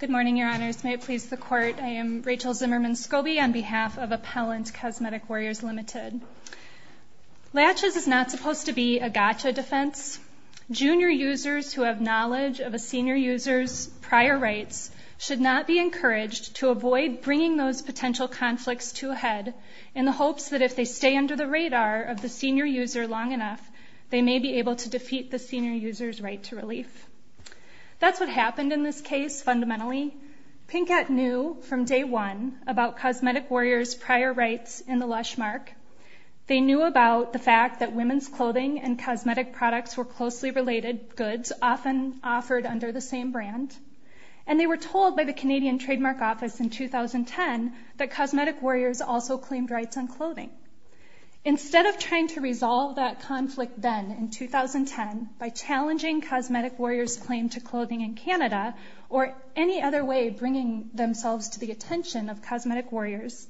Good morning, Your Honors. May it please the Court, I am Rachel Zimmerman-Skobe on behalf of Appellant Cosmetic Warriors Ltd. Latches is not supposed to be a gotcha defense. Junior users who have knowledge of a senior user's prior rights should not be encouraged to avoid bringing those potential conflicts to a head in the hopes that if they stay under the radar of the senior user long enough, they may be able to defeat the senior user's right to relief. That's what happened in this case fundamentally. Pinkett knew from day one about Cosmetic Warriors' prior rights in the Lushmark. They knew about the fact that women's clothing and cosmetic products were closely related goods often offered under the same brand. And they were told by the Canadian Trademark Office in 2010 that Cosmetic Warriors also claimed rights on clothing. Instead of trying to resolve that conflict then in 2010 by challenging Cosmetic Warriors' claim to clothing in Canada or any other way bringing themselves to the attention of Cosmetic Warriors,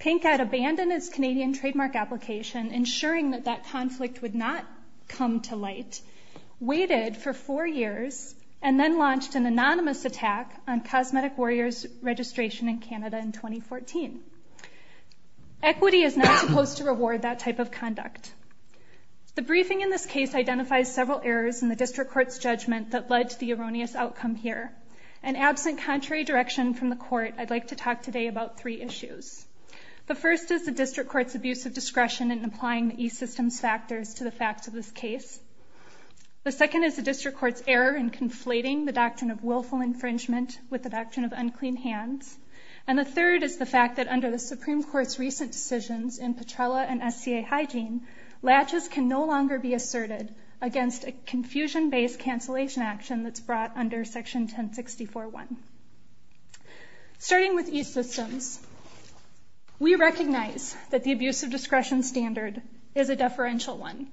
Pinkett abandoned its Canadian trademark application ensuring that that conflict would not come to light, waited for four years, and then launched an anonymous attack on Cosmetic Equity is not supposed to reward that type of conduct. The briefing in this case identifies several errors in the District Court's judgment that led to the erroneous outcome here. And absent contrary direction from the Court, I'd like to talk today about three issues. The first is the District Court's abuse of discretion in applying the e-Systems factors to the facts of this case. The second is the District Court's error in conflating the doctrine of willful infringement with the doctrine of unclean hands. And the third is the fact that under the Supreme Court's recent decisions in Petrella and SCA Hygiene, latches can no longer be asserted against a confusion-based cancellation action that's brought under Section 1064.1. Starting with e-Systems, we recognize that the abuse of discretion standard is a deferential one,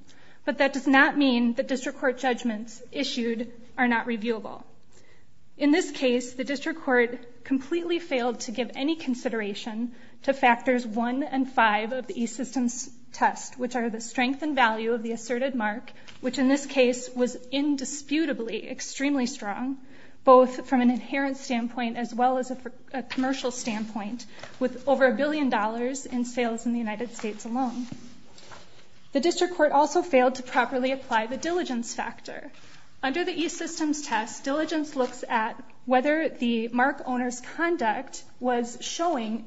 but that does not mean the District Court judgments issued are not reviewable. In this case, the District Court completely failed to give any consideration to factors one and five of the e-Systems test, which are the strength and value of the asserted mark, which in this case was indisputably extremely strong, both from an inherent standpoint as well as a commercial standpoint, with over a billion dollars in sales in the United States alone. The District Court also failed to properly apply the diligence factor. Under the e-Systems test, diligence looks at whether the mark owner's conduct was showing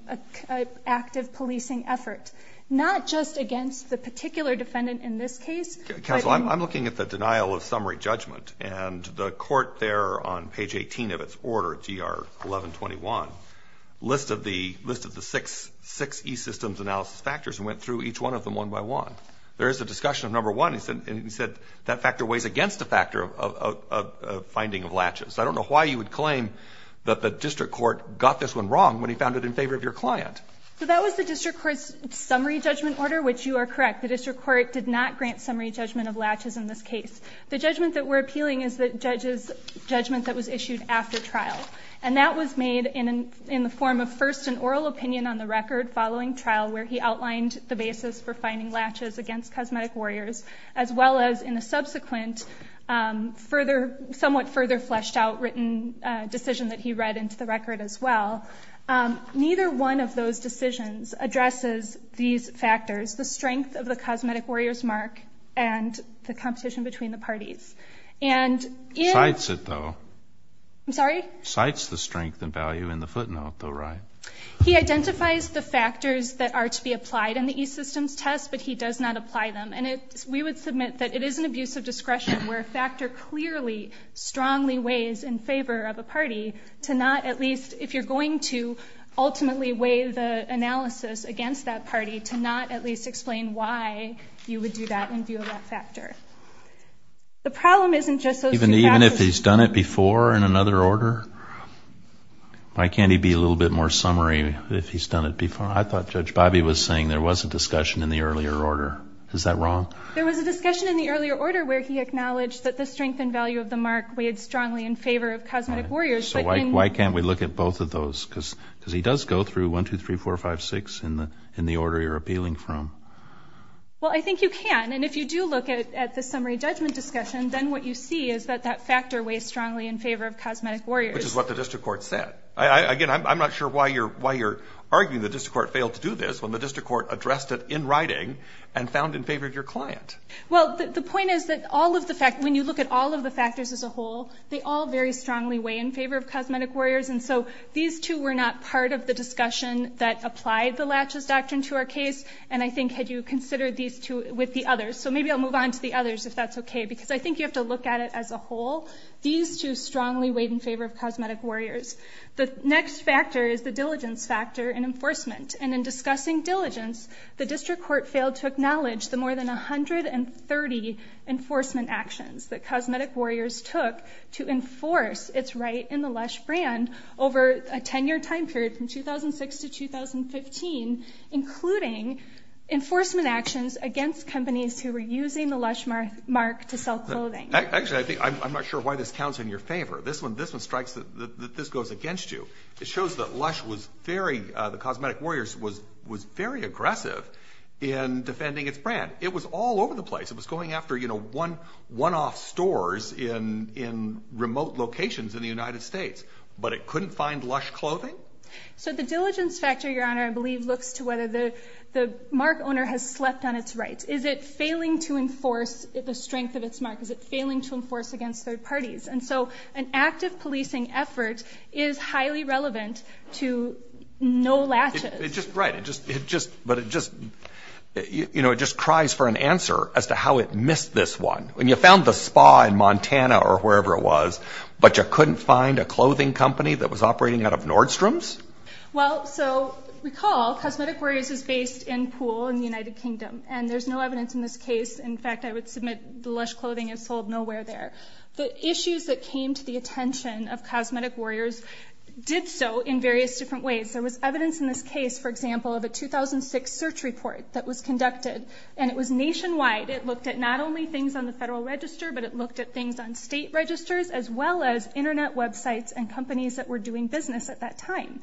an active policing effort, not just against the particular defendant in this case, but in... Counsel, I'm looking at the denial of summary judgment, and the Court there on page 18 of its order, GR 1121, listed the six e-Systems analysis factors and went through each one of them one by one. There is a discussion of number one, and he said that factor weighs against the factor of finding of latches. I don't know why you would claim that the District Court got this one wrong when he found it in favor of your client. So that was the District Court's summary judgment order, which you are correct. The District Court did not grant summary judgment of latches in this case. The judgment that we're appealing is the judge's judgment that was issued after trial, and that was made in the form of first an oral opinion on the record following trial, where he outlined the basis for finding latches against Cosmetic Warriors, as well as in the subsequent somewhat further fleshed out written decision that he read into the record as well. Neither one of those decisions addresses these factors, the strength of the Cosmetic Warriors mark and the competition between the parties. And in... Cites it, though. I'm sorry? Cites the strength and value in the footnote, though, right? He identifies the factors that are to be applied in the e-Systems test, but he does not apply them. And we would submit that it is an abuse of discretion where a factor clearly, strongly weighs in favor of a party to not at least, if you're going to ultimately weigh the analysis against that party, to not at least explain why you would do that in view of that factor. The problem isn't just those two factors. Even if he's done it before in another order? Why can't he be a little bit more summary if he's done it before? I thought Judge Bobby was saying there was a discussion in the earlier order. Is that wrong? There was a discussion in the earlier order where he acknowledged that the strength and value of the mark weighed strongly in favor of Cosmetic Warriors, but in... Why can't we look at both of those? Because he does go through 1, 2, 3, 4, 5, 6 in the order you're appealing from. Well, I think you can. And if you do look at the summary judgment discussion, then what you see is that that factor weighs strongly in favor of Cosmetic Warriors. Which is what the district court said. Again, I'm not sure why you're arguing the district court failed to do this when the district court addressed it in writing and found in favor of your client. Well, the point is that all of the factors, when you look at all of the factors as a whole, they all very strongly weigh in favor of Cosmetic Warriors. And so these two were not part of the discussion that applied the Latches Doctrine to our case. And I think had you considered these two with the others. So maybe I'll move on to the others if that's okay. Because I think you have to look at it as a whole. These two strongly weighed in favor of Cosmetic Warriors. The next factor is the diligence factor in enforcement. And in discussing diligence, the district court failed to acknowledge the more than 130 enforcement actions that Cosmetic Warriors took to enforce its right in the Lush brand over a 10-year time period, from 2006 to 2015, including enforcement actions against companies who were using the Lush mark to sell clothing. Actually, I'm not sure why this counts in your favor. This one strikes that this goes against you. It shows that Lush was very, the Cosmetic Warriors was very aggressive in defending its brand. It was all over the place. It was going after, you know, one-off stores in remote locations in the United States. But it couldn't find Lush clothing? So the diligence factor, Your Honor, I believe looks to whether the mark owner has slept on its rights. Is it failing to enforce the strength of its mark? Is it failing to enforce against third parties? And so an active policing effort is highly relevant to no latches. It just, right, it just, but it just, you know, it just cries for an answer as to how it missed this one. And you found the spa in Montana or wherever it was, but you couldn't find a clothing company that was operating out of Nordstrom's? Well, so recall, Cosmetic Warriors is based in Poole in the United Kingdom, and there's no evidence in this case. In fact, I would submit the Lush clothing is sold nowhere there. The issues that came to the attention of Cosmetic Warriors did so in various different ways. There was evidence in this case, for example, of a 2006 search report that was conducted, and it was nationwide. It looked at not only things on the federal register, but it looked at things on state registers, as well as internet websites and companies that were doing business at that time.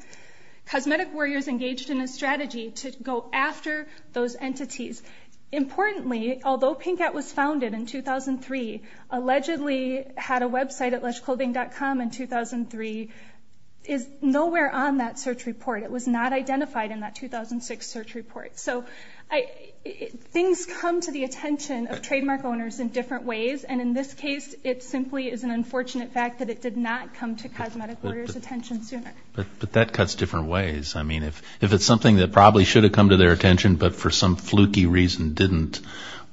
Cosmetic Warriors engaged in a strategy to go after those entities. Importantly, although Pinkett was founded in 2003, allegedly had a website at lushclothing.com in 2003, is nowhere on that search report. It was not identified in that 2006 search report. So things come to the attention of trademark owners in different ways, and in this case, it simply is an unfortunate fact that it did not come to Cosmetic Warriors' attention sooner. But that cuts different ways. I mean, if it's something that probably should have come to their attention, but for some fluky reason didn't,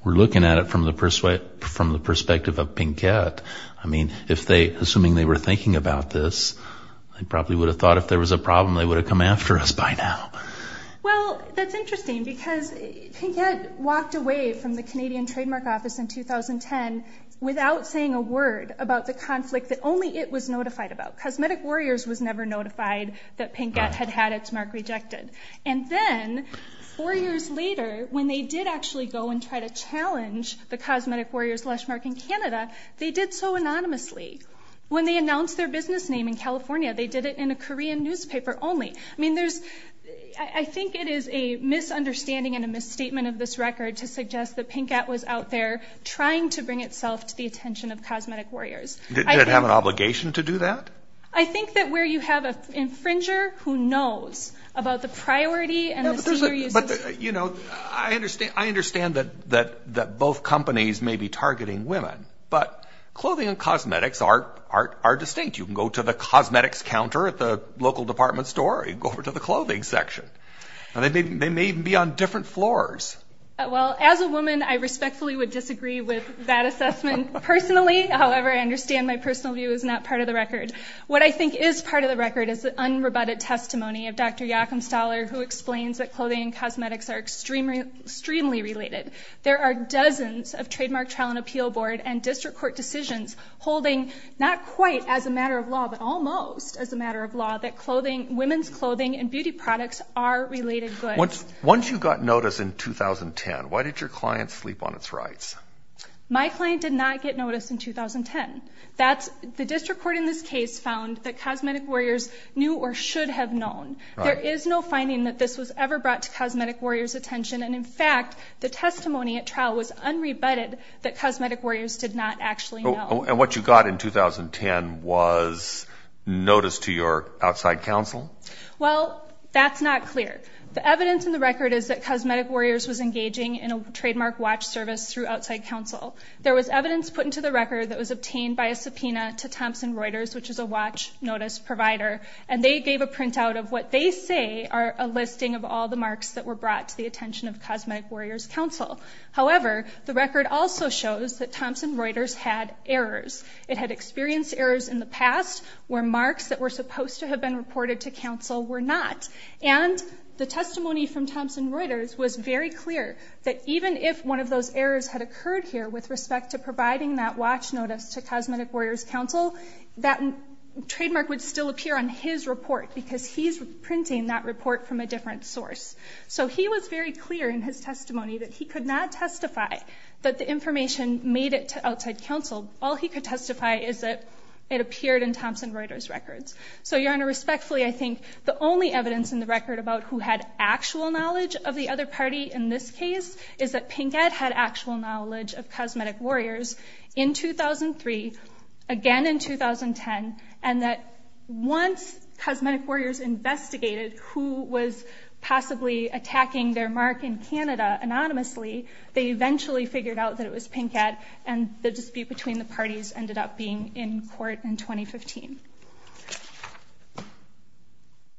we're looking at it from the perspective of Pinkett. I mean, if they, assuming they were thinking about this, they probably would have thought if there was a problem, they would have come after us by now. Well, that's interesting, because Pinkett walked away from the Canadian trademark office in 2010 without saying a word about the conflict that only it was notified about. Cosmetic Warriors was never notified that Pinkett had had its mark rejected. And then, four years later, when they did actually go and try to challenge the Cosmetic Warriors Lush mark in Canada, they did so anonymously. When they announced their business name in California, they did it in a Korean newspaper only. I mean, there's, I think it is a misunderstanding and a misstatement of this record to suggest that Pinkett was out there trying to bring itself to the attention of Cosmetic Warriors. Did it have an obligation to do that? I think that where you have an infringer who knows about the priority and the senior uses... But, you know, I understand that both companies may be targeting women, but clothing and cosmetics are distinct. You can go to the cosmetics counter at the local department store, or you can go over to the clothing section. They may even be on different floors. Well, as a woman, I respectfully would disagree with that assessment personally. However, I understand my personal view is not part of the record. What I think is part of the record is the unrebutted testimony of Dr. Jakumstaller, who explains that clothing and cosmetics are extremely related. There are dozens of trademark trial and appeal board and district court decisions holding, not quite as a matter of law, but almost as a matter of law, that clothing and beauty products are related goods. Once you got notice in 2010, why did your client sleep on its rights? My client did not get notice in 2010. The district court in this case found that Cosmetic Warriors knew or should have known. There is no finding that this was ever brought to Cosmetic Warriors' attention, and in fact, the testimony at trial was unrebutted that Cosmetic Warriors did not actually know. And what you got in 2010 was notice to your outside counsel? Well, that's not clear. The evidence in the record is that Cosmetic Warriors was engaging in a trademark watch service through outside counsel. There was evidence put into the record that was obtained by a subpoena to Thomson Reuters, which is a watch notice provider, and they gave a printout of what they say are a listing of all the marks that were brought to the attention of Cosmetic Warriors' counsel. However, the record also shows that Thomson Reuters had errors. It had experienced errors in the past where marks that were supposed to have been reported to counsel were not. And the testimony from Thomson Reuters was very clear that even if one of those errors had occurred here with respect to providing that watch notice to Cosmetic Warriors' counsel, that trademark would still appear on his report because he's printing that report from a different source. So he was very clear in his testimony that he could not testify that the information made it to outside counsel. All he could testify is that it appeared in Thomson Reuters' records. So, Your Honor, respectfully, I think the only evidence in the record about who had actual knowledge of the other party in this case is that Pinkett had actual knowledge of Cosmetic Warriors in 2003, again in 2010, and that once Cosmetic Warriors investigated who was possibly attacking their mark in Canada anonymously, they eventually figured out that it was Pinkett, and the dispute between the parties ended up being in court in 2015.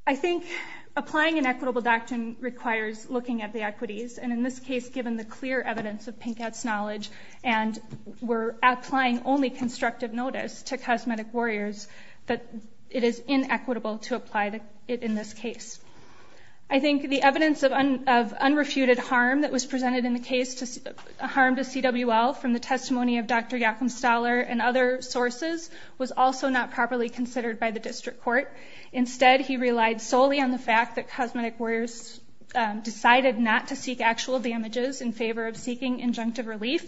I think applying an equitable doctrine requires looking at the equities, and in this case, given the clear evidence of Pinkett's knowledge, and we're applying only constructive notice to Cosmetic Warriors, that it is inequitable to apply it in this case. I think the evidence of unrefuted harm that was presented in the case, harm to CWL from the testimony of Dr. Jakumstaller and other sources, was also not properly considered by the district court. Instead, he relied solely on the fact that Cosmetic Warriors decided not to seek actual damages in favor of seeking injunctive relief,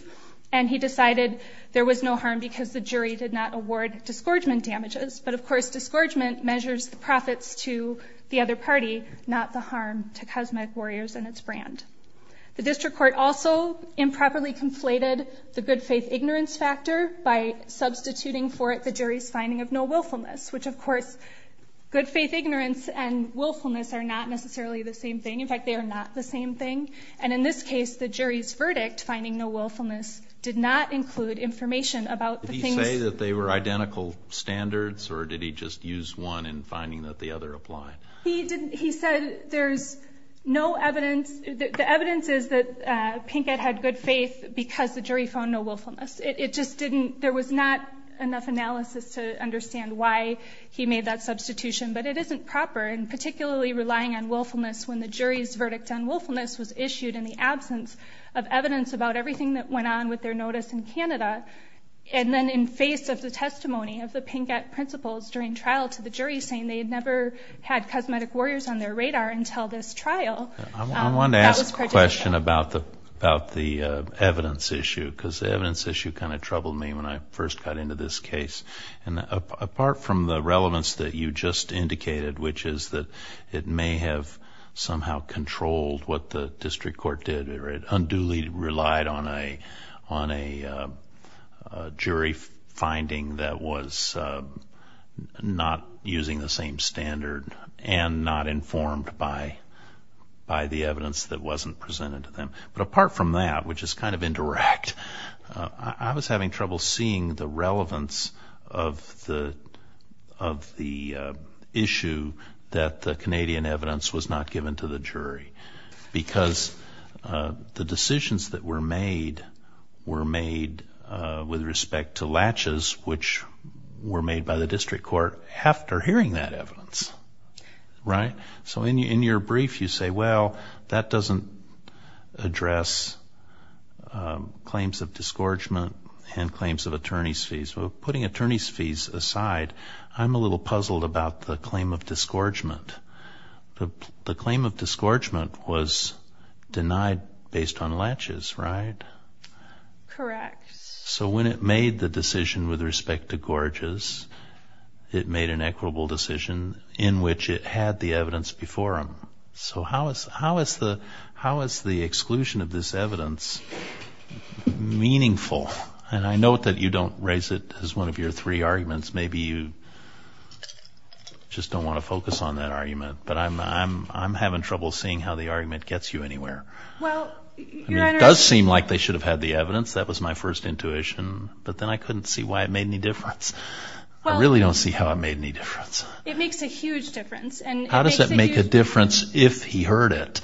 and he decided there was no harm because the jury did not award disgorgement damages. But, of course, disgorgement measures the profits to the other party, not the harm to Cosmetic Warriors and its brand. The district court also improperly conflated the good faith ignorance factor by substituting for it the jury's finding of no willfulness, which, of course, good faith ignorance and willfulness are not necessarily the same thing. In fact, they are not the same thing. And in this case, the jury's verdict, finding no willfulness, did not include information about the things... He said there's no evidence... The evidence is that Pinkett had good faith because the jury found no willfulness. It just didn't... There was not enough analysis to understand why he made that substitution. But it isn't proper, and particularly relying on willfulness when the jury's verdict on willfulness was issued in the absence of evidence about everything that went on with their notice in Canada, and then in face of the testimony of the Pinkett principals during trial to the jury saying they had never had Cosmetic Warriors on their radar until this trial, that was prejudicial. I wanted to ask a question about the evidence issue because the evidence issue kind of troubled me when I first got into this case. And apart from the relevance that you just indicated, which is that it may have somehow controlled what the district court did, or it unduly relied on a jury finding that was not using the same standard and not informed by the evidence that wasn't presented to them. But apart from that, which is kind of indirect, I was having trouble seeing the relevance of the issue that the Canadian evidence was not given to the jury. Because the decisions that were made were made with respect to latches, which were made by the district court after hearing that evidence. Right? So in your brief you say, well, that doesn't address claims of disgorgement and claims of attorney's fees. Well, putting attorney's fees aside, I'm a little puzzled about the claim of disgorgement. The claim of disgorgement was denied based on latches, right? Correct. So when it made the decision with respect to gorges, it made an equitable decision in which it had the evidence before him. So how is the exclusion of this evidence meaningful? And I note that you don't raise it as one of your three arguments. Maybe you just don't want to focus on that argument. But I'm having trouble seeing how the argument gets you anywhere. Well, Your Honor... I mean, it does seem like they should have had the evidence. That was my first intuition. But then I couldn't see why it made any difference. I really don't see how it made any difference. It makes a huge difference. How does it make a difference if he heard it?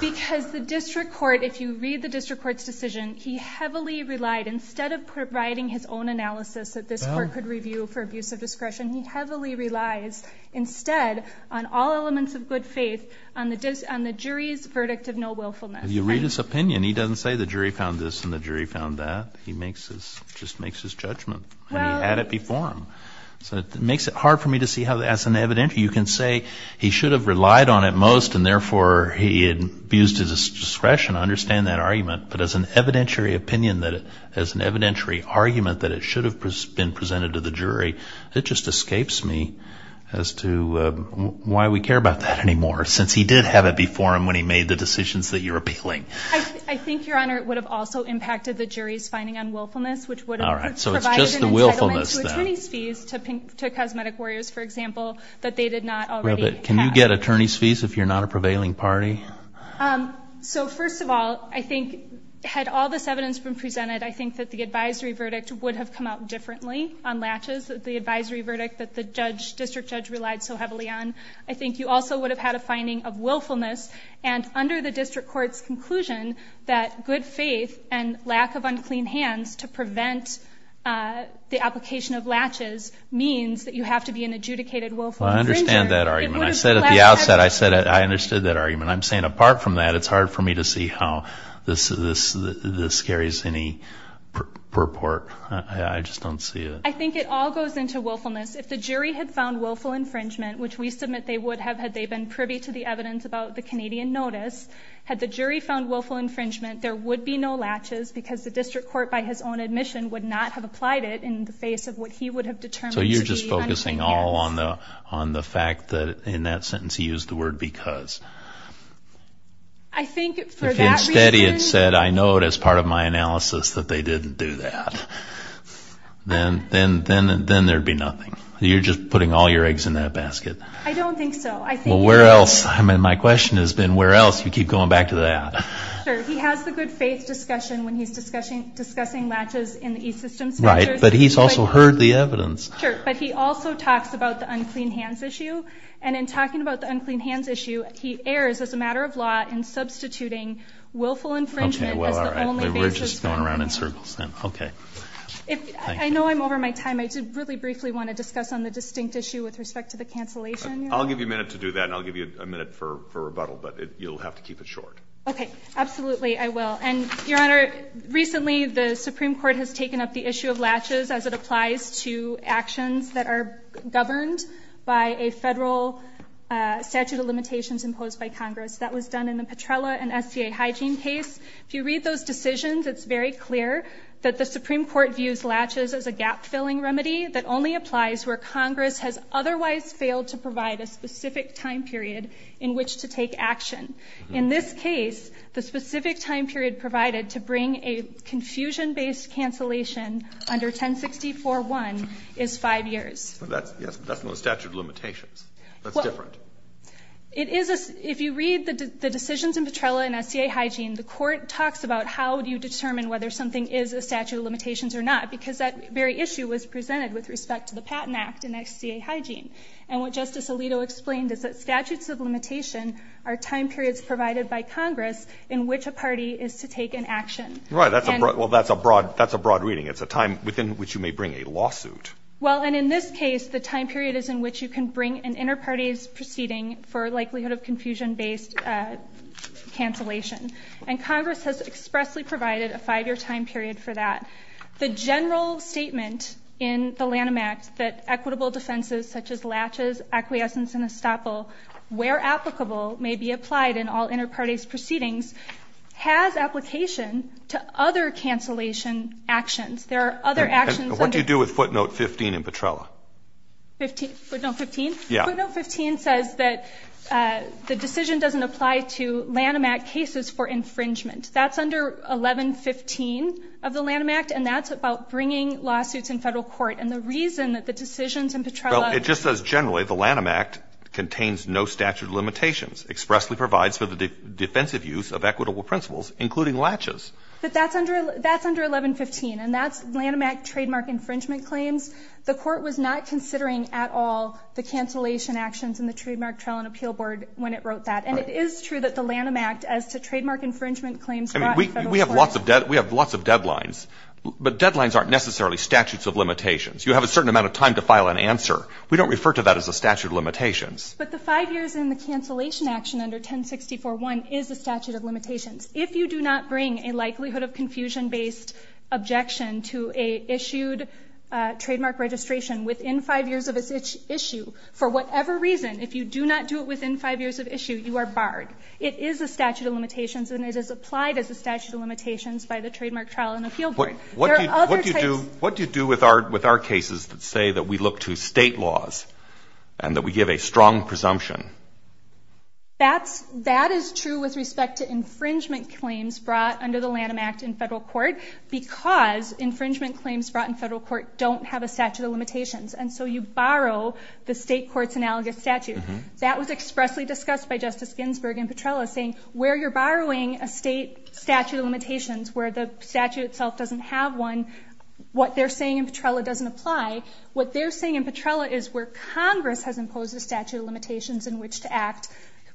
Because the district court, if you read the district court's decision, he heavily relied, instead of providing his own analysis that this court could review for abuse of discretion, he heavily relies instead on all elements of good faith on the jury's verdict of no-wilfulness. You read his opinion, he doesn't say the jury found this and the jury found that. He just makes his judgment. And he had it before him. So it makes it hard for me to see how, as an evidentiary, you can say he should have relied on it most, and therefore he abused his discretion. I understand that argument. But as an evidentiary opinion, as an evidentiary argument that it should have been presented to the jury, it just escapes me as to why we care about that anymore, since he did have it before him when he made the decisions that you're appealing. I think, Your Honor, it would have also impacted the jury's finding on willfulness, which would have provided an entitlement to attorney's fees to cosmetic warriors. For example, if they did not already have... Can you get attorney's fees if you're not a prevailing party? So first of all, I think, had all this evidence been presented, I think that the advisory verdict would have come out differently on latches, the advisory verdict that the district judge relied so heavily on. I think you also would have had a finding of willfulness. And under the district court's conclusion that good faith and lack of unclean hands to prevent the application of latches means that you have to be an adjudicated willful infringer... I understand that argument. I said at the outset, I understood that argument. I'm saying apart from that, it's hard for me to see how this carries any purport. I just don't see it. I think it all goes into willfulness. If the jury had found willful infringement, which we submit they would have had they been privy to the evidence about the Canadian notice, had the jury found willful infringement, there would be no latches because the district court by his own admission would not have applied it in the face of what he would have determined to be... So you're just focusing all on the fact that in that sentence he used the word because. I think for that reason... If instead he had said, I know it as part of my analysis that they didn't do that, then there would be nothing. You're just putting all your eggs in that basket. I don't think so. Where else? My question has been where else? You keep going back to that. Sure. He has the good faith discussion when he's discussing latches in the E-Systems Center. Right, but he's also heard the evidence. Sure, but he also talks about the unclean hands issue. And in talking about the unclean hands issue, he errs as a matter of law in substituting willful infringement as the only basis. We're just going around in circles then. Okay. I know I'm over my time. I did really briefly want to discuss on the distinct issue with respect to the cancellation. I'll give you a minute to do that and I'll give you a minute for rebuttal, but you'll have to keep it short. Okay, absolutely I will. And Your Honor, recently the Supreme Court has taken up the issue of latches as it applies to actions that are governed by a federal statute of limitations imposed by Congress. That was done in the Petrella and SCA hygiene case. If you read those decisions, it's very clear that the Supreme Court views latches as a gap-filling remedy that only applies where Congress has otherwise failed to provide a specific time period provided to bring a confusion-based cancellation under 1060.4.1 is five years. That's not a statute of limitations. That's different. If you read the decisions in Petrella and SCA hygiene, the court talks about how do you determine whether something is a statute of limitations or not, because that very issue was presented with respect to the Patent Act and SCA hygiene. And what Justice Alito explained is that statutes of limitation are time periods provided by Congress in which a party is to take an action. Right. Well, that's a broad reading. It's a time within which you may bring a lawsuit. Well, and in this case, the time period is in which you can bring an inter-party's proceeding for likelihood of confusion-based cancellation. And Congress has expressly provided a five-year time period for that. The general statement in the Lanham Act that equitable defenses such as latches, acquiescence, and estoppel, where applicable, may be applied in all inter-party's proceedings, has application to other cancellation actions. There are other actions under... And what do you do with footnote 15 in Petrella? Footnote 15? Yeah. Footnote 15 says that the decision doesn't apply to Lanham Act cases for infringement. That's under 1115 of the Lanham Act, and that's about bringing lawsuits in federal court. And the reason that the decisions in Petrella... Well, it just says generally the Lanham Act contains no statute of limitations, expressly provides for the defensive use of equitable principles, including latches. But that's under 1115, and that's Lanham Act trademark infringement claims. The court was not considering at all the cancellation actions in the Trademark Trial and Appeal Board when it wrote that. And it is true that the Lanham Act as to trademark infringement claims brought in federal court... We have lots of deadlines, but deadlines aren't necessarily statutes of limitations. You have a certain amount of time to file an answer. We don't refer to that as a statute of limitations. But the five years in the cancellation action under 1064.1 is a statute of limitations. If you do not bring a likelihood of confusion-based objection to a issued trademark registration within five years of its issue, for whatever reason, if you do not do it within five years of issue, you are barred. It is a statute of limitations, and it is applied as a statute of limitations by the Trademark Trial and Appeal Board. What do you do with our cases that say that we look to state laws and that we give a strong presumption? That is true with respect to infringement claims brought under the Lanham Act in federal court, because infringement claims brought in federal court don't have a statute of limitations. You borrow the state court's analogous statute. That was expressly discussed by Justice Ginsburg in Petrella, saying where you're borrowing a state statute of limitations where the statute itself doesn't have one, what they're saying in Petrella doesn't apply. What they're saying in Petrella is where Congress has imposed a statute of limitations in which to act,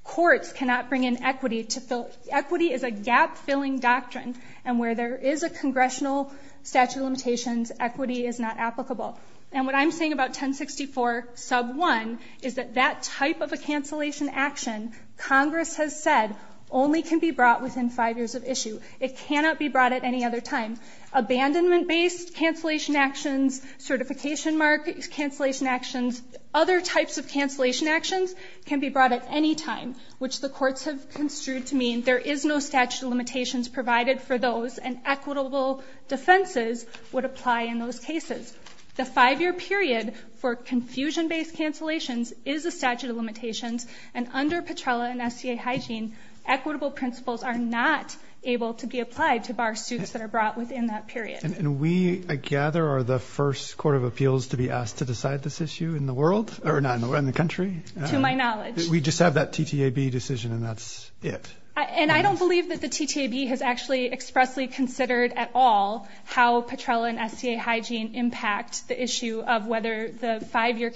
courts cannot bring in equity to fill. Equity is a gap-filling doctrine, and where there is a congressional statute of limitations, equity is not applicable. And what I'm saying about 1064 sub 1 is that that type of a cancellation action, Congress has said, only can be brought within five years of issue. It cannot be brought at any other time. Abandonment-based cancellation actions, certification mark cancellation actions, other types of cancellation actions can be brought at any time, which the courts have construed to mean there is no statute of limitations provided for those, and equitable defenses would apply in those cases. The five-year period for confusion-based cancellations is a statute of limitations, and under Petrella and SCA hygiene, equitable principles are not able to be applied to bar suits that are brought within that period. And we, I gather, are the first court of appeals to be asked to decide this issue in the world, or not, in the country? To my knowledge. We just have that TTAB decision, and that's it. And I don't believe that the TTAB has actually expressly considered at all how Petrella and SCA hygiene impact the issue of whether the five-year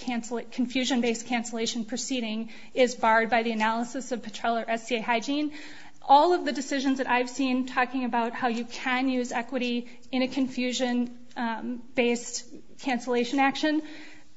confusion-based cancellation proceeding is barred by the analysis of Petrella or SCA hygiene. All of the decisions that I've seen talking about how you can use equity in a confusion-based cancellation action,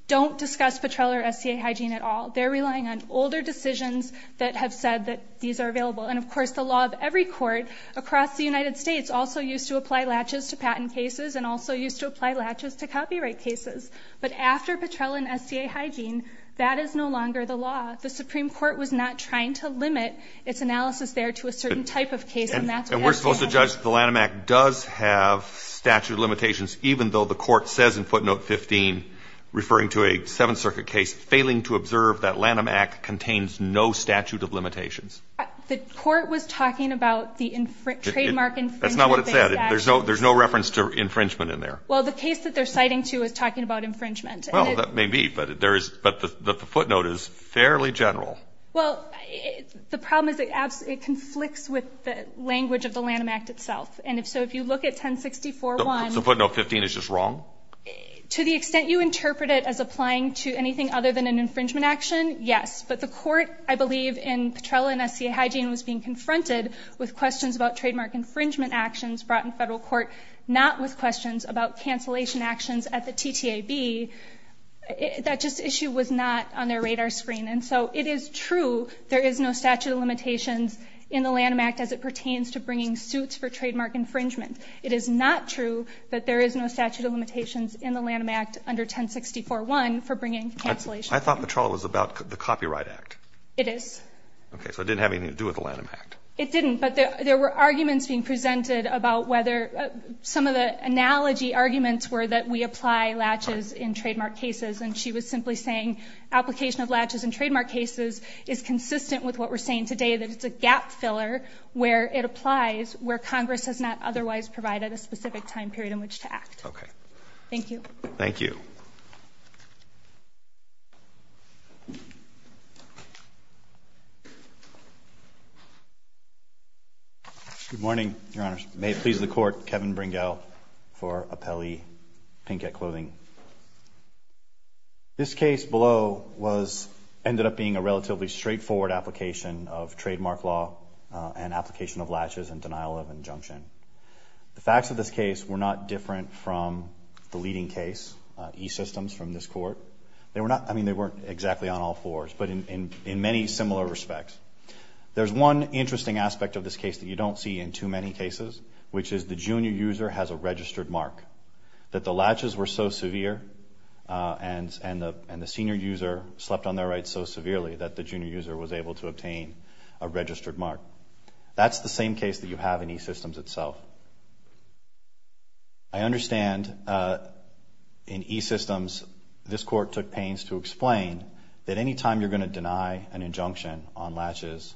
don't discuss Petrella or SCA hygiene at all. They're relying on older decisions that have said that these are available. And, of course, the law of every court across the United States also used to apply latches to patent cases and also used to apply latches to copyright cases. But after Petrella and SCA hygiene, that is no longer the law. The Supreme Court was not trying to limit its analysis there to a certain type of case, and that's what SCA has done. And we're supposed to judge that the Lanham Act does have statute of limitations, even though the court says in footnote 15, referring to a Seventh Circuit case, failing to observe that Lanham Act contains no statute of limitations. The court was talking about the trademark infringement-based action. That's not what it said. There's no reference to infringement in there. Well, the case that they're citing, too, is talking about infringement. Well, that may be, but the footnote is fairly general. Well, the problem is it conflicts with the language of the Lanham Act itself. And so if you look at 1064-1... So footnote 15 is just wrong? To the extent you interpret it as applying to anything other than an infringement action, yes. But the court, I believe, in Petrella and SCA hygiene was being confronted with questions about trademark infringement actions brought in federal court, not with questions about cancellation actions at the TTAB. That just issue was not on their radar screen. And so it is true there is no statute of limitations in the Lanham Act as it pertains to bringing suits for trademark infringement. It is not true that there is no statute of limitations in the Lanham Act under 1064-1 for bringing cancellation. I thought Petrella was about the Copyright Act. It is. Okay. So it didn't have anything to do with the Lanham Act. It didn't. But there were arguments being presented about whether some of the analogy arguments were that we apply latches in trademark cases. And she was simply saying application of latches in trademark cases is consistent with what we're saying today, that it's a where Congress has not otherwise provided a specific time period in which to act. Okay. Thank you. Thank you. Good morning, Your Honors. May it please the Court, Kevin Bringell for Appellee Pinkett Clothing. This case below ended up being a relatively straightforward application of latches and denial of injunction. The facts of this case were not different from the leading case, E-Systems, from this Court. They were not, I mean, they weren't exactly on all fours, but in many similar respects. There's one interesting aspect of this case that you don't see in too many cases, which is the junior user has a registered mark, that the latches were so severe and the senior user slept on their rights so severely that the junior user was able to obtain a registered mark. That's the same case that you have in E-Systems itself. I understand in E-Systems, this Court took pains to explain that any time you're going to deny an injunction on latches,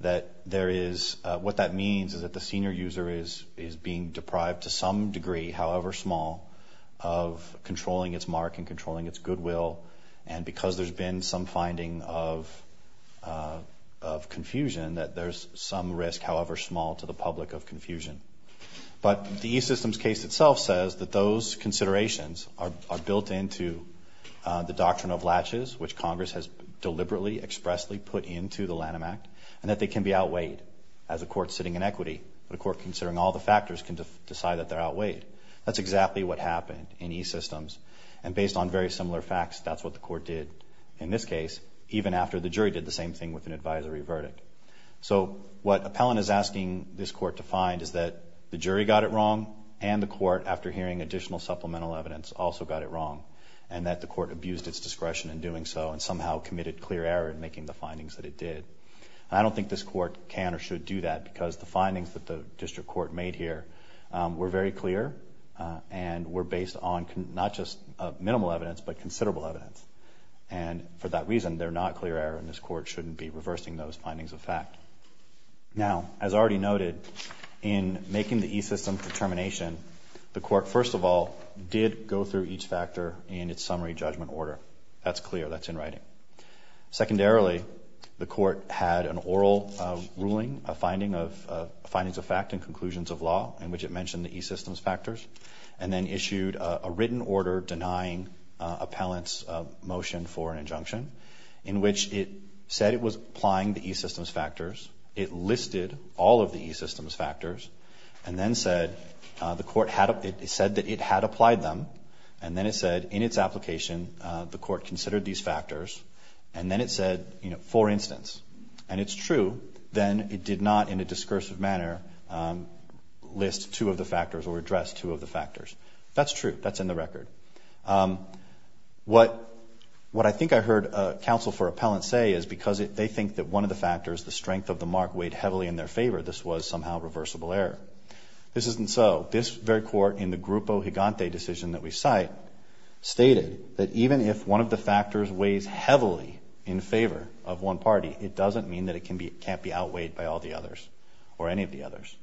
that there is, what that means is that the senior user is being deprived to some degree, however small, of controlling its mark and controlling its goodwill, and because there's been some finding of confusion, that there's some risk, however small, to the public of confusion. But the E-Systems case itself says that those considerations are built into the doctrine of latches, which Congress has deliberately expressly put into the Lanham Act, and that they can be outweighed as a court sitting in equity, a court considering all the factors can decide that they're outweighed. That's exactly what happened in E-Systems, and based on very similar facts, that's what the Court did in this case, even after the jury did the same thing with an advisory verdict. So, what Appellant is asking this Court to find is that the jury got it wrong, and the Court, after hearing additional supplemental evidence, also got it wrong, and that the Court abused its discretion in doing so, and somehow committed clear error in making the findings that it did. I don't think this Court can or should do that, because the findings that the District Court made here were very clear, and were based on not just minimal evidence, but considerable evidence. And for that reason, they're not clear error, and this Court shouldn't be reversing those findings of fact. Now, as already noted, in making the E-Systems determination, the Court, first of all, did go through each factor in its summary judgment order. That's clear, that's in writing. Secondarily, the Court had an oral ruling, a finding of findings of fact and conclusions of law, in which it mentioned the E-Systems factors, and then issued a written order denying Appellant's motion for an injunction, in which it said it was applying the E-Systems factors, it listed all of the E-Systems factors, and then said that it had applied them, and then it said, in its application, the Court considered these factors, and then it said, you know, for instance, and it's true, then it did not, in a discursive manner, list two of the factors, or address two of the factors. That's true, that's in the record. What I think I heard counsel for Appellant say is because they think that one of the factors, the strength of the mark, weighed heavily in their favor, this was somehow reversible error. This isn't so. This very Court, in the Grupo Higante decision that we cite, stated that even if one of the factors weighs heavily in favor of one party, it doesn't mean that it can't be outweighed by all the others, or any of the others.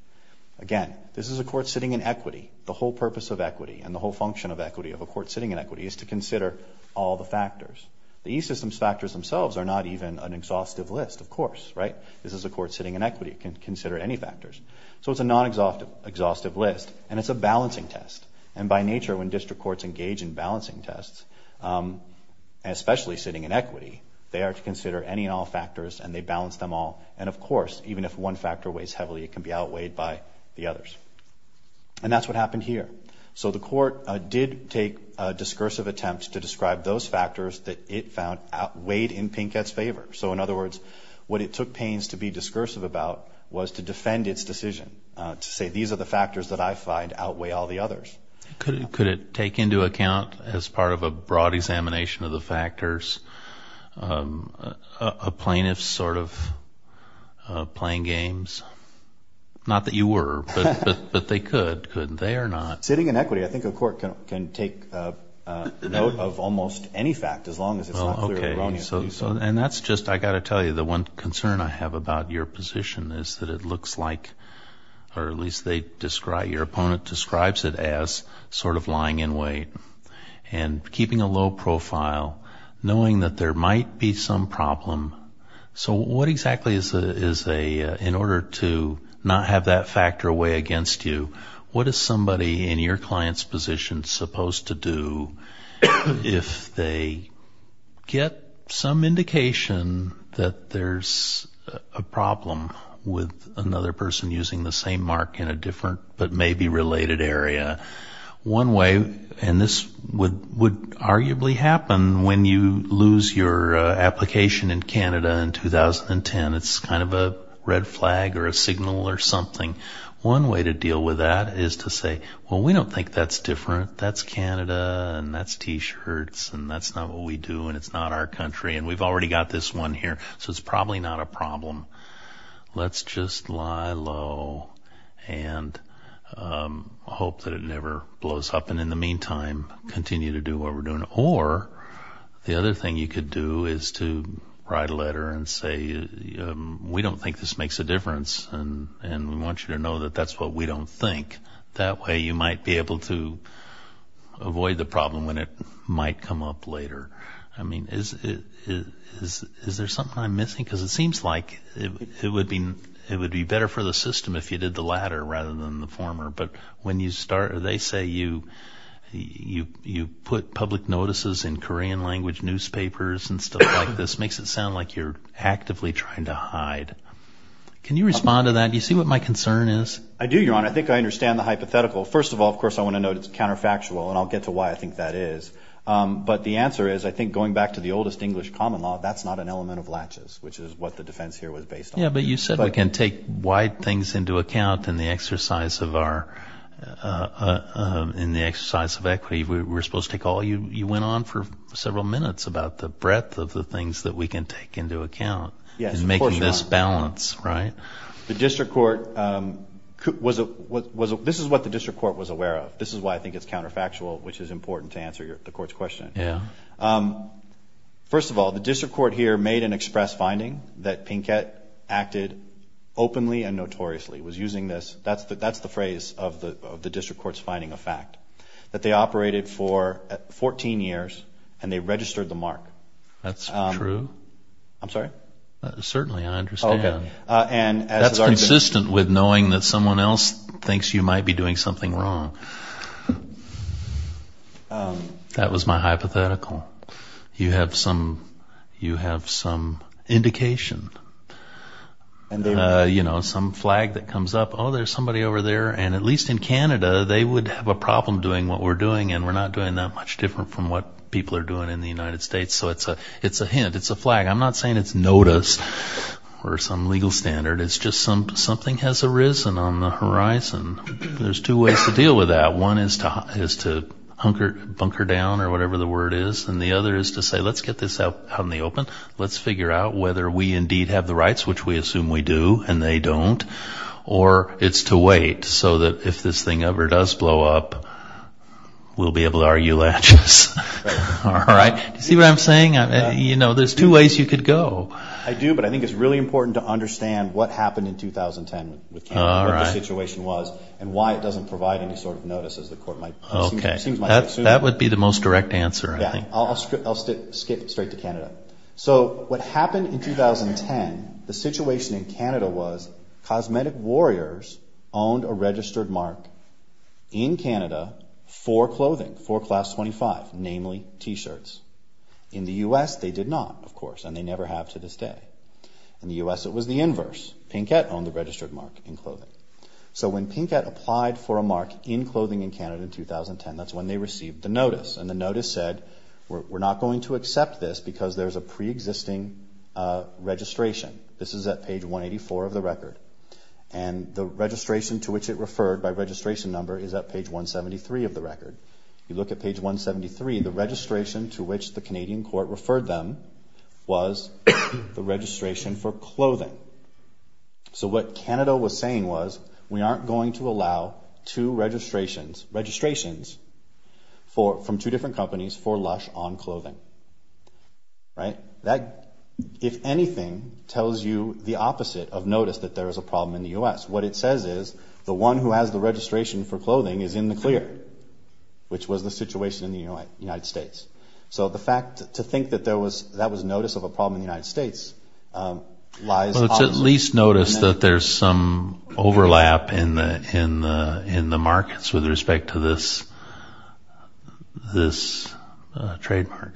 Again, this is a Court sitting in equity. The whole purpose of equity, and the whole function of equity, of a Court sitting in equity, is to consider all the factors. The E-Systems factors themselves are not even an exhaustive list, of course, right? This is a Court sitting in equity. It can consider any factors. So it's a non-exhaustive list, and it's a balancing test, and by nature, when district courts engage in balancing tests, especially sitting in equity, they are to consider any and all factors, and they balance them all, and of course, even if one factor weighs heavily, it can be outweighed by the others. And that's what happened here. So the Court did take a discursive attempt to describe those factors that it found weighed in Pinkett's favor. So in other words, what it took Payne's to be discursive about was to defend its decision, to say, these are Could it take into account, as part of a broad examination of the factors, a plaintiff's sort of playing games? Not that you were, but they could. Could they or not? Sitting in equity, I think a Court can take note of almost any fact, as long as it's not clear erroneously so. Okay. And that's just, I've got to tell you, the one concern I have about your position is that it looks like, or at least they describe, your opponent describes it as sort of lying in wait, and keeping a low profile, knowing that there might be some problem. So what exactly is a, in order to not have that factor weigh against you, what is somebody in your with another person using the same mark in a different but maybe related area? One way, and this would arguably happen when you lose your application in Canada in 2010, it's kind of a red flag or a signal or something. One way to deal with that is to say, well, we don't think that's different. That's Canada, and that's t-shirts, and that's not what we do, and it's not our country, and we've already got this one here, so it's probably not a problem. Let's just lie low and hope that it never blows up, and in the meantime, continue to do what we're doing. Or, the other thing you could do is to write a letter and say, we don't think this makes a difference, and we want you to know that that's what we don't think. That way you might be able to avoid the problem when it might come up later. I it seems like it would be better for the system if you did the latter rather than the former, but when you start, they say you put public notices in Korean language newspapers and stuff like this makes it sound like you're actively trying to hide. Can you respond to that? Do you see what my concern is? I do, Your Honor. I think I understand the hypothetical. First of all, of course, I want to note it's counterfactual, and I'll get to why I think that is, but the answer is I think going back to the oldest English common law, that's not an element of latches, which is what the defense here was based on. Yeah, but you said we can take wide things into account in the exercise of equity. We're supposed to take all you went on for several minutes about the breadth of the things that we can take into account in making this balance, right? Yes, of course, Your Honor. This is what the district court was aware of. This is why I think it's counterfactual, which is important to answer the court's question. First of all, the district court here made an express finding that Pinkett acted openly and notoriously, was using this. That's the phrase of the district court's finding of fact, that they operated for 14 years and they registered the mark. That's true. I'm sorry? Certainly, I understand. That's consistent with knowing that someone else thinks you might be doing something wrong. That was my hypothetical. You have some indication, some flag that comes up, oh, there's somebody over there. And at least in Canada, they would have a problem doing what we're doing and we're not doing that much different from what people are doing in the United States. So it's a hint, it's a flag. I'm not saying it's noticed or some legal standard. It's just something has arisen on the horizon. There's two ways to deal with that. One is to hunker down or whatever the word is and the other is to say, let's get this out in the open. Let's figure out whether we indeed have the rights, which we assume we do and they don't, or it's to wait so that if this thing ever does blow up, we'll be able to argue latches. All right? You see what I'm saying? You know, there's two ways you could go. I do, but I think it's really important to understand what happened in 2010 with Canada, what the situation was and why it doesn't provide any sort of notice as the court might, it seems might assume. That would be the most direct answer, I think. Yeah. I'll skip straight to Canada. So what happened in 2010, the situation in Canada was Cosmetic Warriors owned a registered mark in Canada for clothing, for Class 25, namely t-shirts. In the U.S., they did not, of course, and they never have to this day. In the U.S., it was the inverse. Pinkett owned the registered mark in clothing. So when Pinkett applied for a mark in clothing in Canada in 2010, that's when they received the notice and the notice said, we're not going to accept this because there's a pre-existing registration. This is at page 184 of the record and the registration to which it referred by registration number is at page 173 of the record. You look at page 173, the registration to which the Canadian court referred them was the registration for clothing. So what Canada was saying was, we aren't going to allow two registrations, registrations from two different companies for Lush on clothing. Right? That, if anything, tells you the opposite of notice that there is a problem in the U.S. What it says is, the one who has the registration for clothing is in the clear, which was the situation in the United States. So the fact to think that that was notice of a problem in the United States lies opposite. Well, it's at least notice that there's some overlap in the markets with respect to this trademark.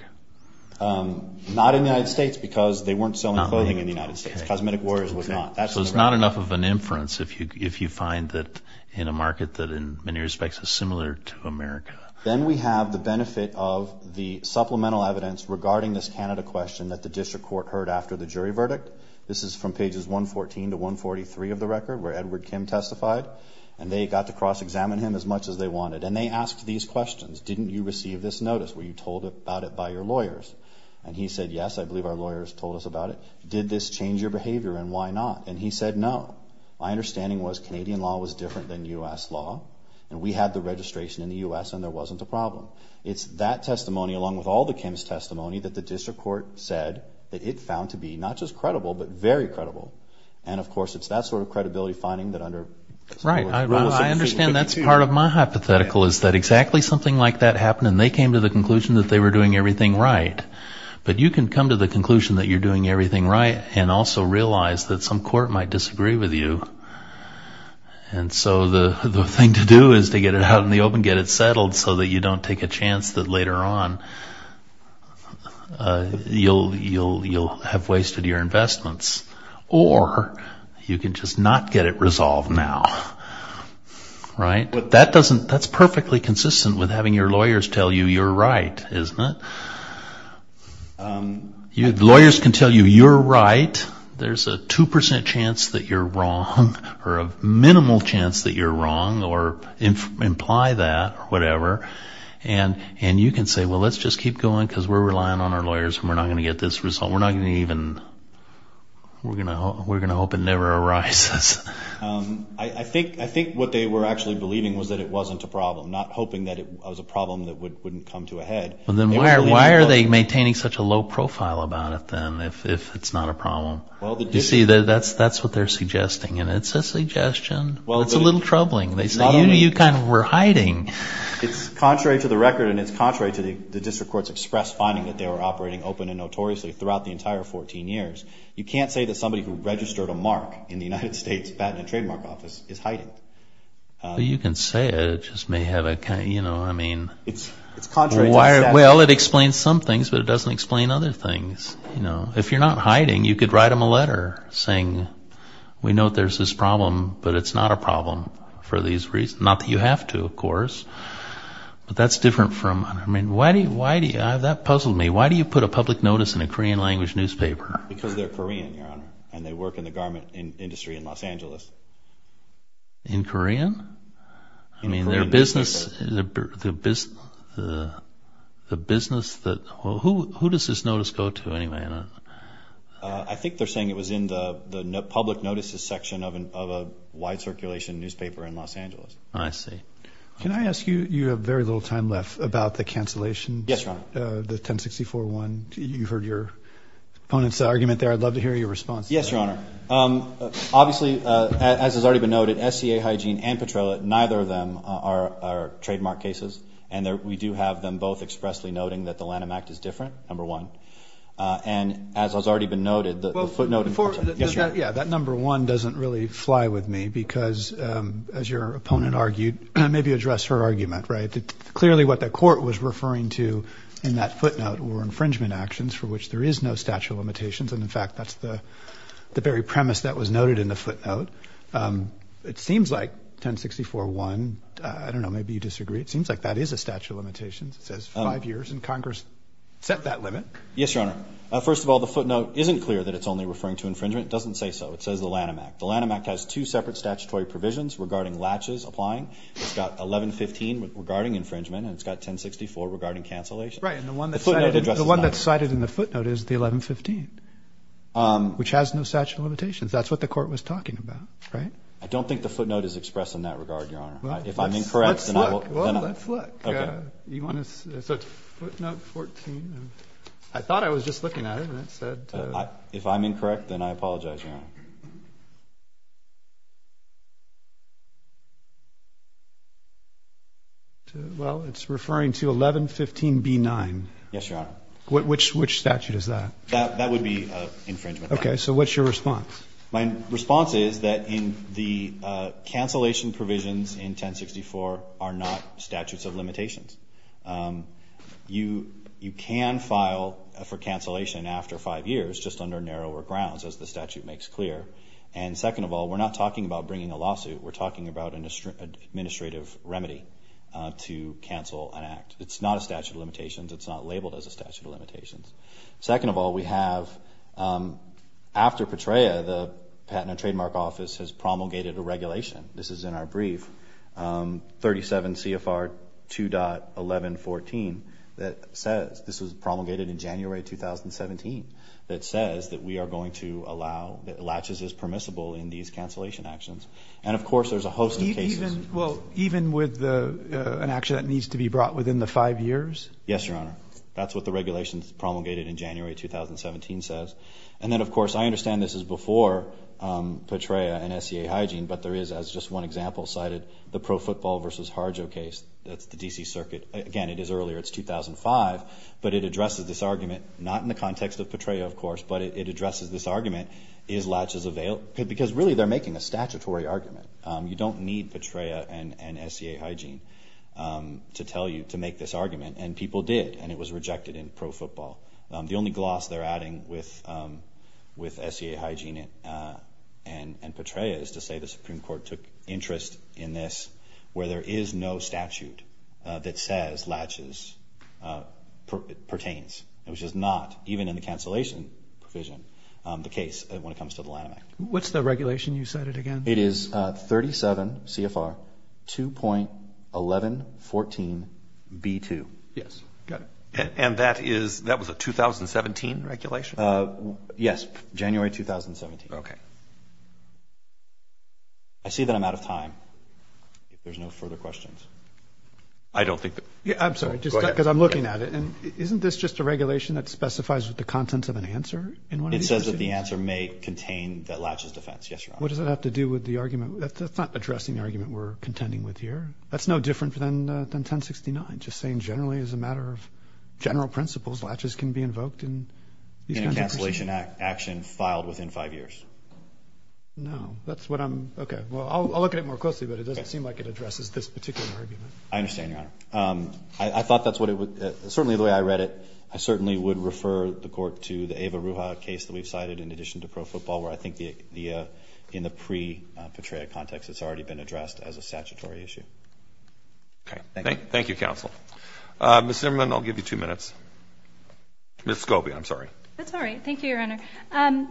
Not in the United States because they weren't selling clothing in the United States. Cosmetic Warriors was not. So it's not enough of an inference if you find that in a market that in many respects is similar to America. Then we have the benefit of the supplemental evidence regarding this Canada question that the district court heard after the jury verdict. This is from pages 114 to 143 of the record where Edward Kim testified. And they got to cross-examine him as much as they wanted. And they asked these questions. Didn't you receive this notice? Were you told about it by your lawyers? And he said, yes, I believe our lawyers told us about it. Did this change your behavior and why not? And he said, no. My understanding was Canadian law was different than U.S. law. And we had the registration in the U.S. and there wasn't a problem. It's that testimony along with all the Kim's testimony that the district court said that it found to be not just credible, but very credible. And of course it's that sort of credibility finding that under. Right. I understand that's part of my hypothetical is that exactly something like that happened and they came to the conclusion that they were doing everything right. But you can come to the conclusion that you're doing everything right and also realize that some court might disagree with you. And so the thing to do is to get it out in the open, get it settled so that you don't take a chance that later on you'll have wasted your investments. Or you can just not get it resolved now. Right. That's perfectly consistent with having your lawyers can tell you you're right. There's a 2% chance that you're wrong or a minimal chance that you're wrong or imply that or whatever. And you can say, well, let's just keep going because we're relying on our lawyers and we're not going to get this result. We're not going to even, we're going to hope it never arises. I think what they were actually believing was that it wasn't a problem, not hoping that it was a problem that wouldn't come to a head. Well, then why are they maintaining such a low profile about it then if it's not a problem? You see, that's what they're suggesting and it's a suggestion. It's a little troubling. They say you kind of were hiding. It's contrary to the record and it's contrary to the district court's express finding that they were operating open and notoriously throughout the entire 14 years. You can't say that somebody who registered a mark in the United States Patent and Trademark Office is hiding. You can say it, it just may have a, you know, I mean. Well, it explains some things, but it doesn't explain other things. If you're not hiding, you could write them a letter saying, we know there's this problem, but it's not a problem for these reasons. Not that you have to, of course, but that's different from, I mean, why do you, that puzzled me. Why do you put a public notice in a Korean language newspaper? Because they're Korean, Your Honor, and they work in the garment industry in Los Angeles. In Korean? I mean, their business, the business that, well, who does this notice go to anyway? I think they're saying it was in the public notices section of a wide circulation newspaper in Los Angeles. I see. Can I ask you, you have very little time left, about the cancellation? Yes, Your Honor. About the 1064-1, you heard your opponent's argument there. I'd love to hear your response. Yes, Your Honor. Obviously, as has already been noted, SCA Hygiene and Petrolet, neither of them are trademark cases. And we do have them both expressly noting that the Lanham Act is different, number one. And as has already been noted, the footnote in the petition. Yeah, that number one doesn't really fly with me because, as your opponent argued, maybe what the court was referring to in that footnote were infringement actions for which there is no statute of limitations. And in fact, that's the very premise that was noted in the footnote. It seems like 1064-1, I don't know, maybe you disagree. It seems like that is a statute of limitations. It says five years, and Congress set that limit. Yes, Your Honor. First of all, the footnote isn't clear that it's only referring to infringement. It doesn't say so. It says the Lanham Act. The Lanham Act has two separate statutory provisions regarding latches applying. It's got 1115 regarding infringement, and it's got 1064 regarding cancellation. Right, and the one that's cited in the footnote is the 1115, which has no statute of limitations. That's what the court was talking about, right? I don't think the footnote is expressed in that regard, Your Honor. If I'm incorrect, then I will... Well, let's look. Okay. You want to... So it's footnote 14. I thought I was just looking at it, and it said... If I'm incorrect, then I apologize, Your Well, it's referring to 1115B9. Yes, Your Honor. Which statute is that? That would be infringement. Okay, so what's your response? My response is that the cancellation provisions in 1064 are not statutes of limitations. You can file for cancellation after five years, just under narrower grounds, as the statute makes clear. And second of all, we're not It's not a statute of limitations. It's not labeled as a statute of limitations. Second of all, we have, after Petraea, the Patent and Trademark Office has promulgated a regulation. This is in our brief, 37 CFR 2.1114, that says... This was promulgated in January 2017, that says that we are going to allow... That latches is permissible in these cancellation actions. And of course, there's a host of cases... Well, even with an action that needs to be brought within the five years? Yes, Your Honor. That's what the regulations promulgated in January 2017 says. And then of course, I understand this is before Petraea and SEA hygiene, but there is, as just one example cited, the Pro Football versus Harjo case. That's the DC Circuit. Again, it is earlier. It's 2005, but it addresses this argument, not in the context of Petraea, of course, but it addresses this argument, is latches available? Because really, they're need Petraea and SEA hygiene to tell you, to make this argument, and people did, and it was rejected in Pro Football. The only gloss they're adding with SEA hygiene and Petraea is to say the Supreme Court took interest in this, where there is no statute that says latches pertains, which is not, even in the cancellation provision, the case when it comes to the Lanham Act. What's the regulation? You said it again. It is 37 CFR 2.1114B2. Yes. Got it. And that is, that was a 2017 regulation? Yes. January 2017. Okay. I see that I'm out of time. If there's no further questions. I don't think that... I'm sorry, just because I'm looking at it, and isn't this just a regulation that specifies what the contents of an answer in one of these? It says that the answer may contain that latches defense. Yes, Your Honor. What does that have to do with the argument? That's not addressing the argument we're contending with here. That's no different than 1069, just saying generally, as a matter of general principles, latches can be invoked in these kinds of cases. In a cancellation action filed within five years. No. That's what I'm, okay. Well, I'll look at it more closely, but it doesn't seem like it addresses this particular argument. I understand, Your Honor. I thought that's what it would, certainly the way I read it, I certainly would refer the Court to the Ava Ruha case that we've cited in addition to in the pre-Petrea context. It's already been addressed as a statutory issue. Okay. Thank you, counsel. Ms. Zimmerman, I'll give you two minutes. Ms. Scobie, I'm sorry. That's all right. Thank you, Your Honor.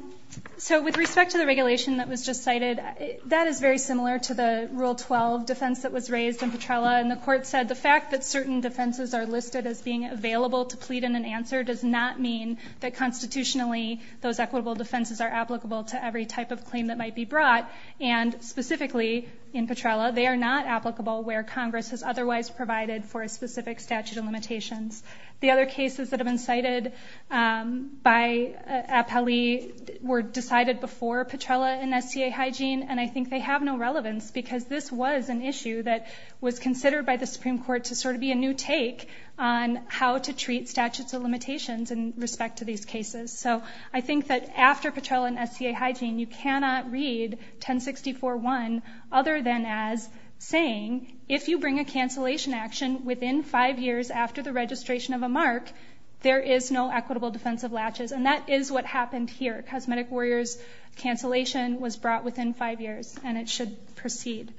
So, with respect to the regulation that was just cited, that is very similar to the Rule 12 defense that was raised in Petrela, and the Court said the fact that certain defenses are listed as being available to plead in an answer does not mean that constitutionally those equitable defenses are applicable to every type of claim that might be brought, and specifically in Petrela, they are not applicable where Congress has otherwise provided for a specific statute of limitations. The other cases that have been cited by Appellee were decided before Petrela in SCA hygiene, and I think they have no relevance because this was an issue that was considered by the Supreme Court to sort of be a new take on how to treat statutes of limitations in respect to these cases. So, I think that after Petrela in SCA hygiene, you cannot read 1064.1 other than as saying, if you bring a cancellation action within five years after the registration of a mark, there is no equitable defense of latches, and that is what happened here. Cosmetic Warriors cancellation was brought within five years, and it should proceed.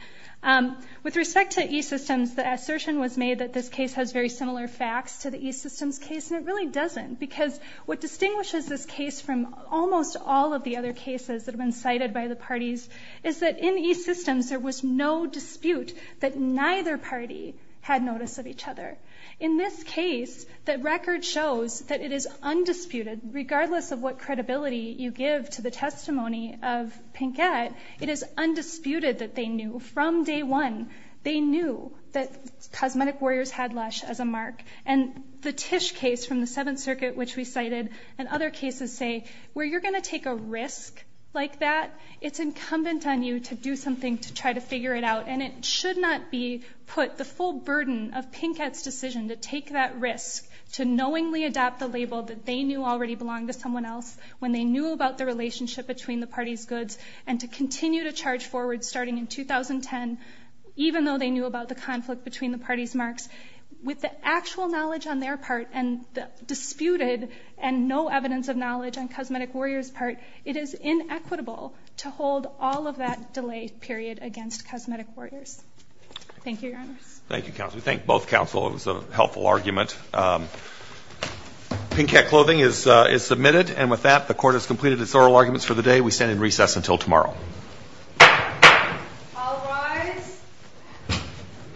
With respect to E-Systems, the assertion was made that this case has very similar facts to the E-Systems case, and it really doesn't, because what distinguishes this case from almost all of the other cases that have been cited by the parties is that in E-Systems, there was no dispute that neither party had notice of each other. In this case, the record shows that it is undisputed, regardless of what credibility you give to the testimony of Pinkett, it is undisputed that they knew from day one, they knew that Cosmetic Warriors had Lush as a mark, and the Tisch case from the Seventh Circuit, which we cited, and other cases say, where you're going to take a risk like that, it's incumbent on you to do something to try to figure it out, and it should not be put the full burden of Pinkett's decision to take that risk, to knowingly adopt the label that they knew already belonged to someone else, when they knew about the relationship between the parties' goods, and to continue to charge forward starting in 2010, even though they knew about the conflict between the parties' marks, with the actual knowledge on their part, and the disputed and no evidence of knowledge on Cosmetic Warriors' part, it is inequitable to hold all of that delay period against Cosmetic Warriors. Thank you, Your Honors. Thank you, Counsel. We thank both Counsel. It was a helpful argument. Pinkett Clothing is submitted, and with that, the Court has completed its oral arguments for the day. We stand in recess until tomorrow. All rise.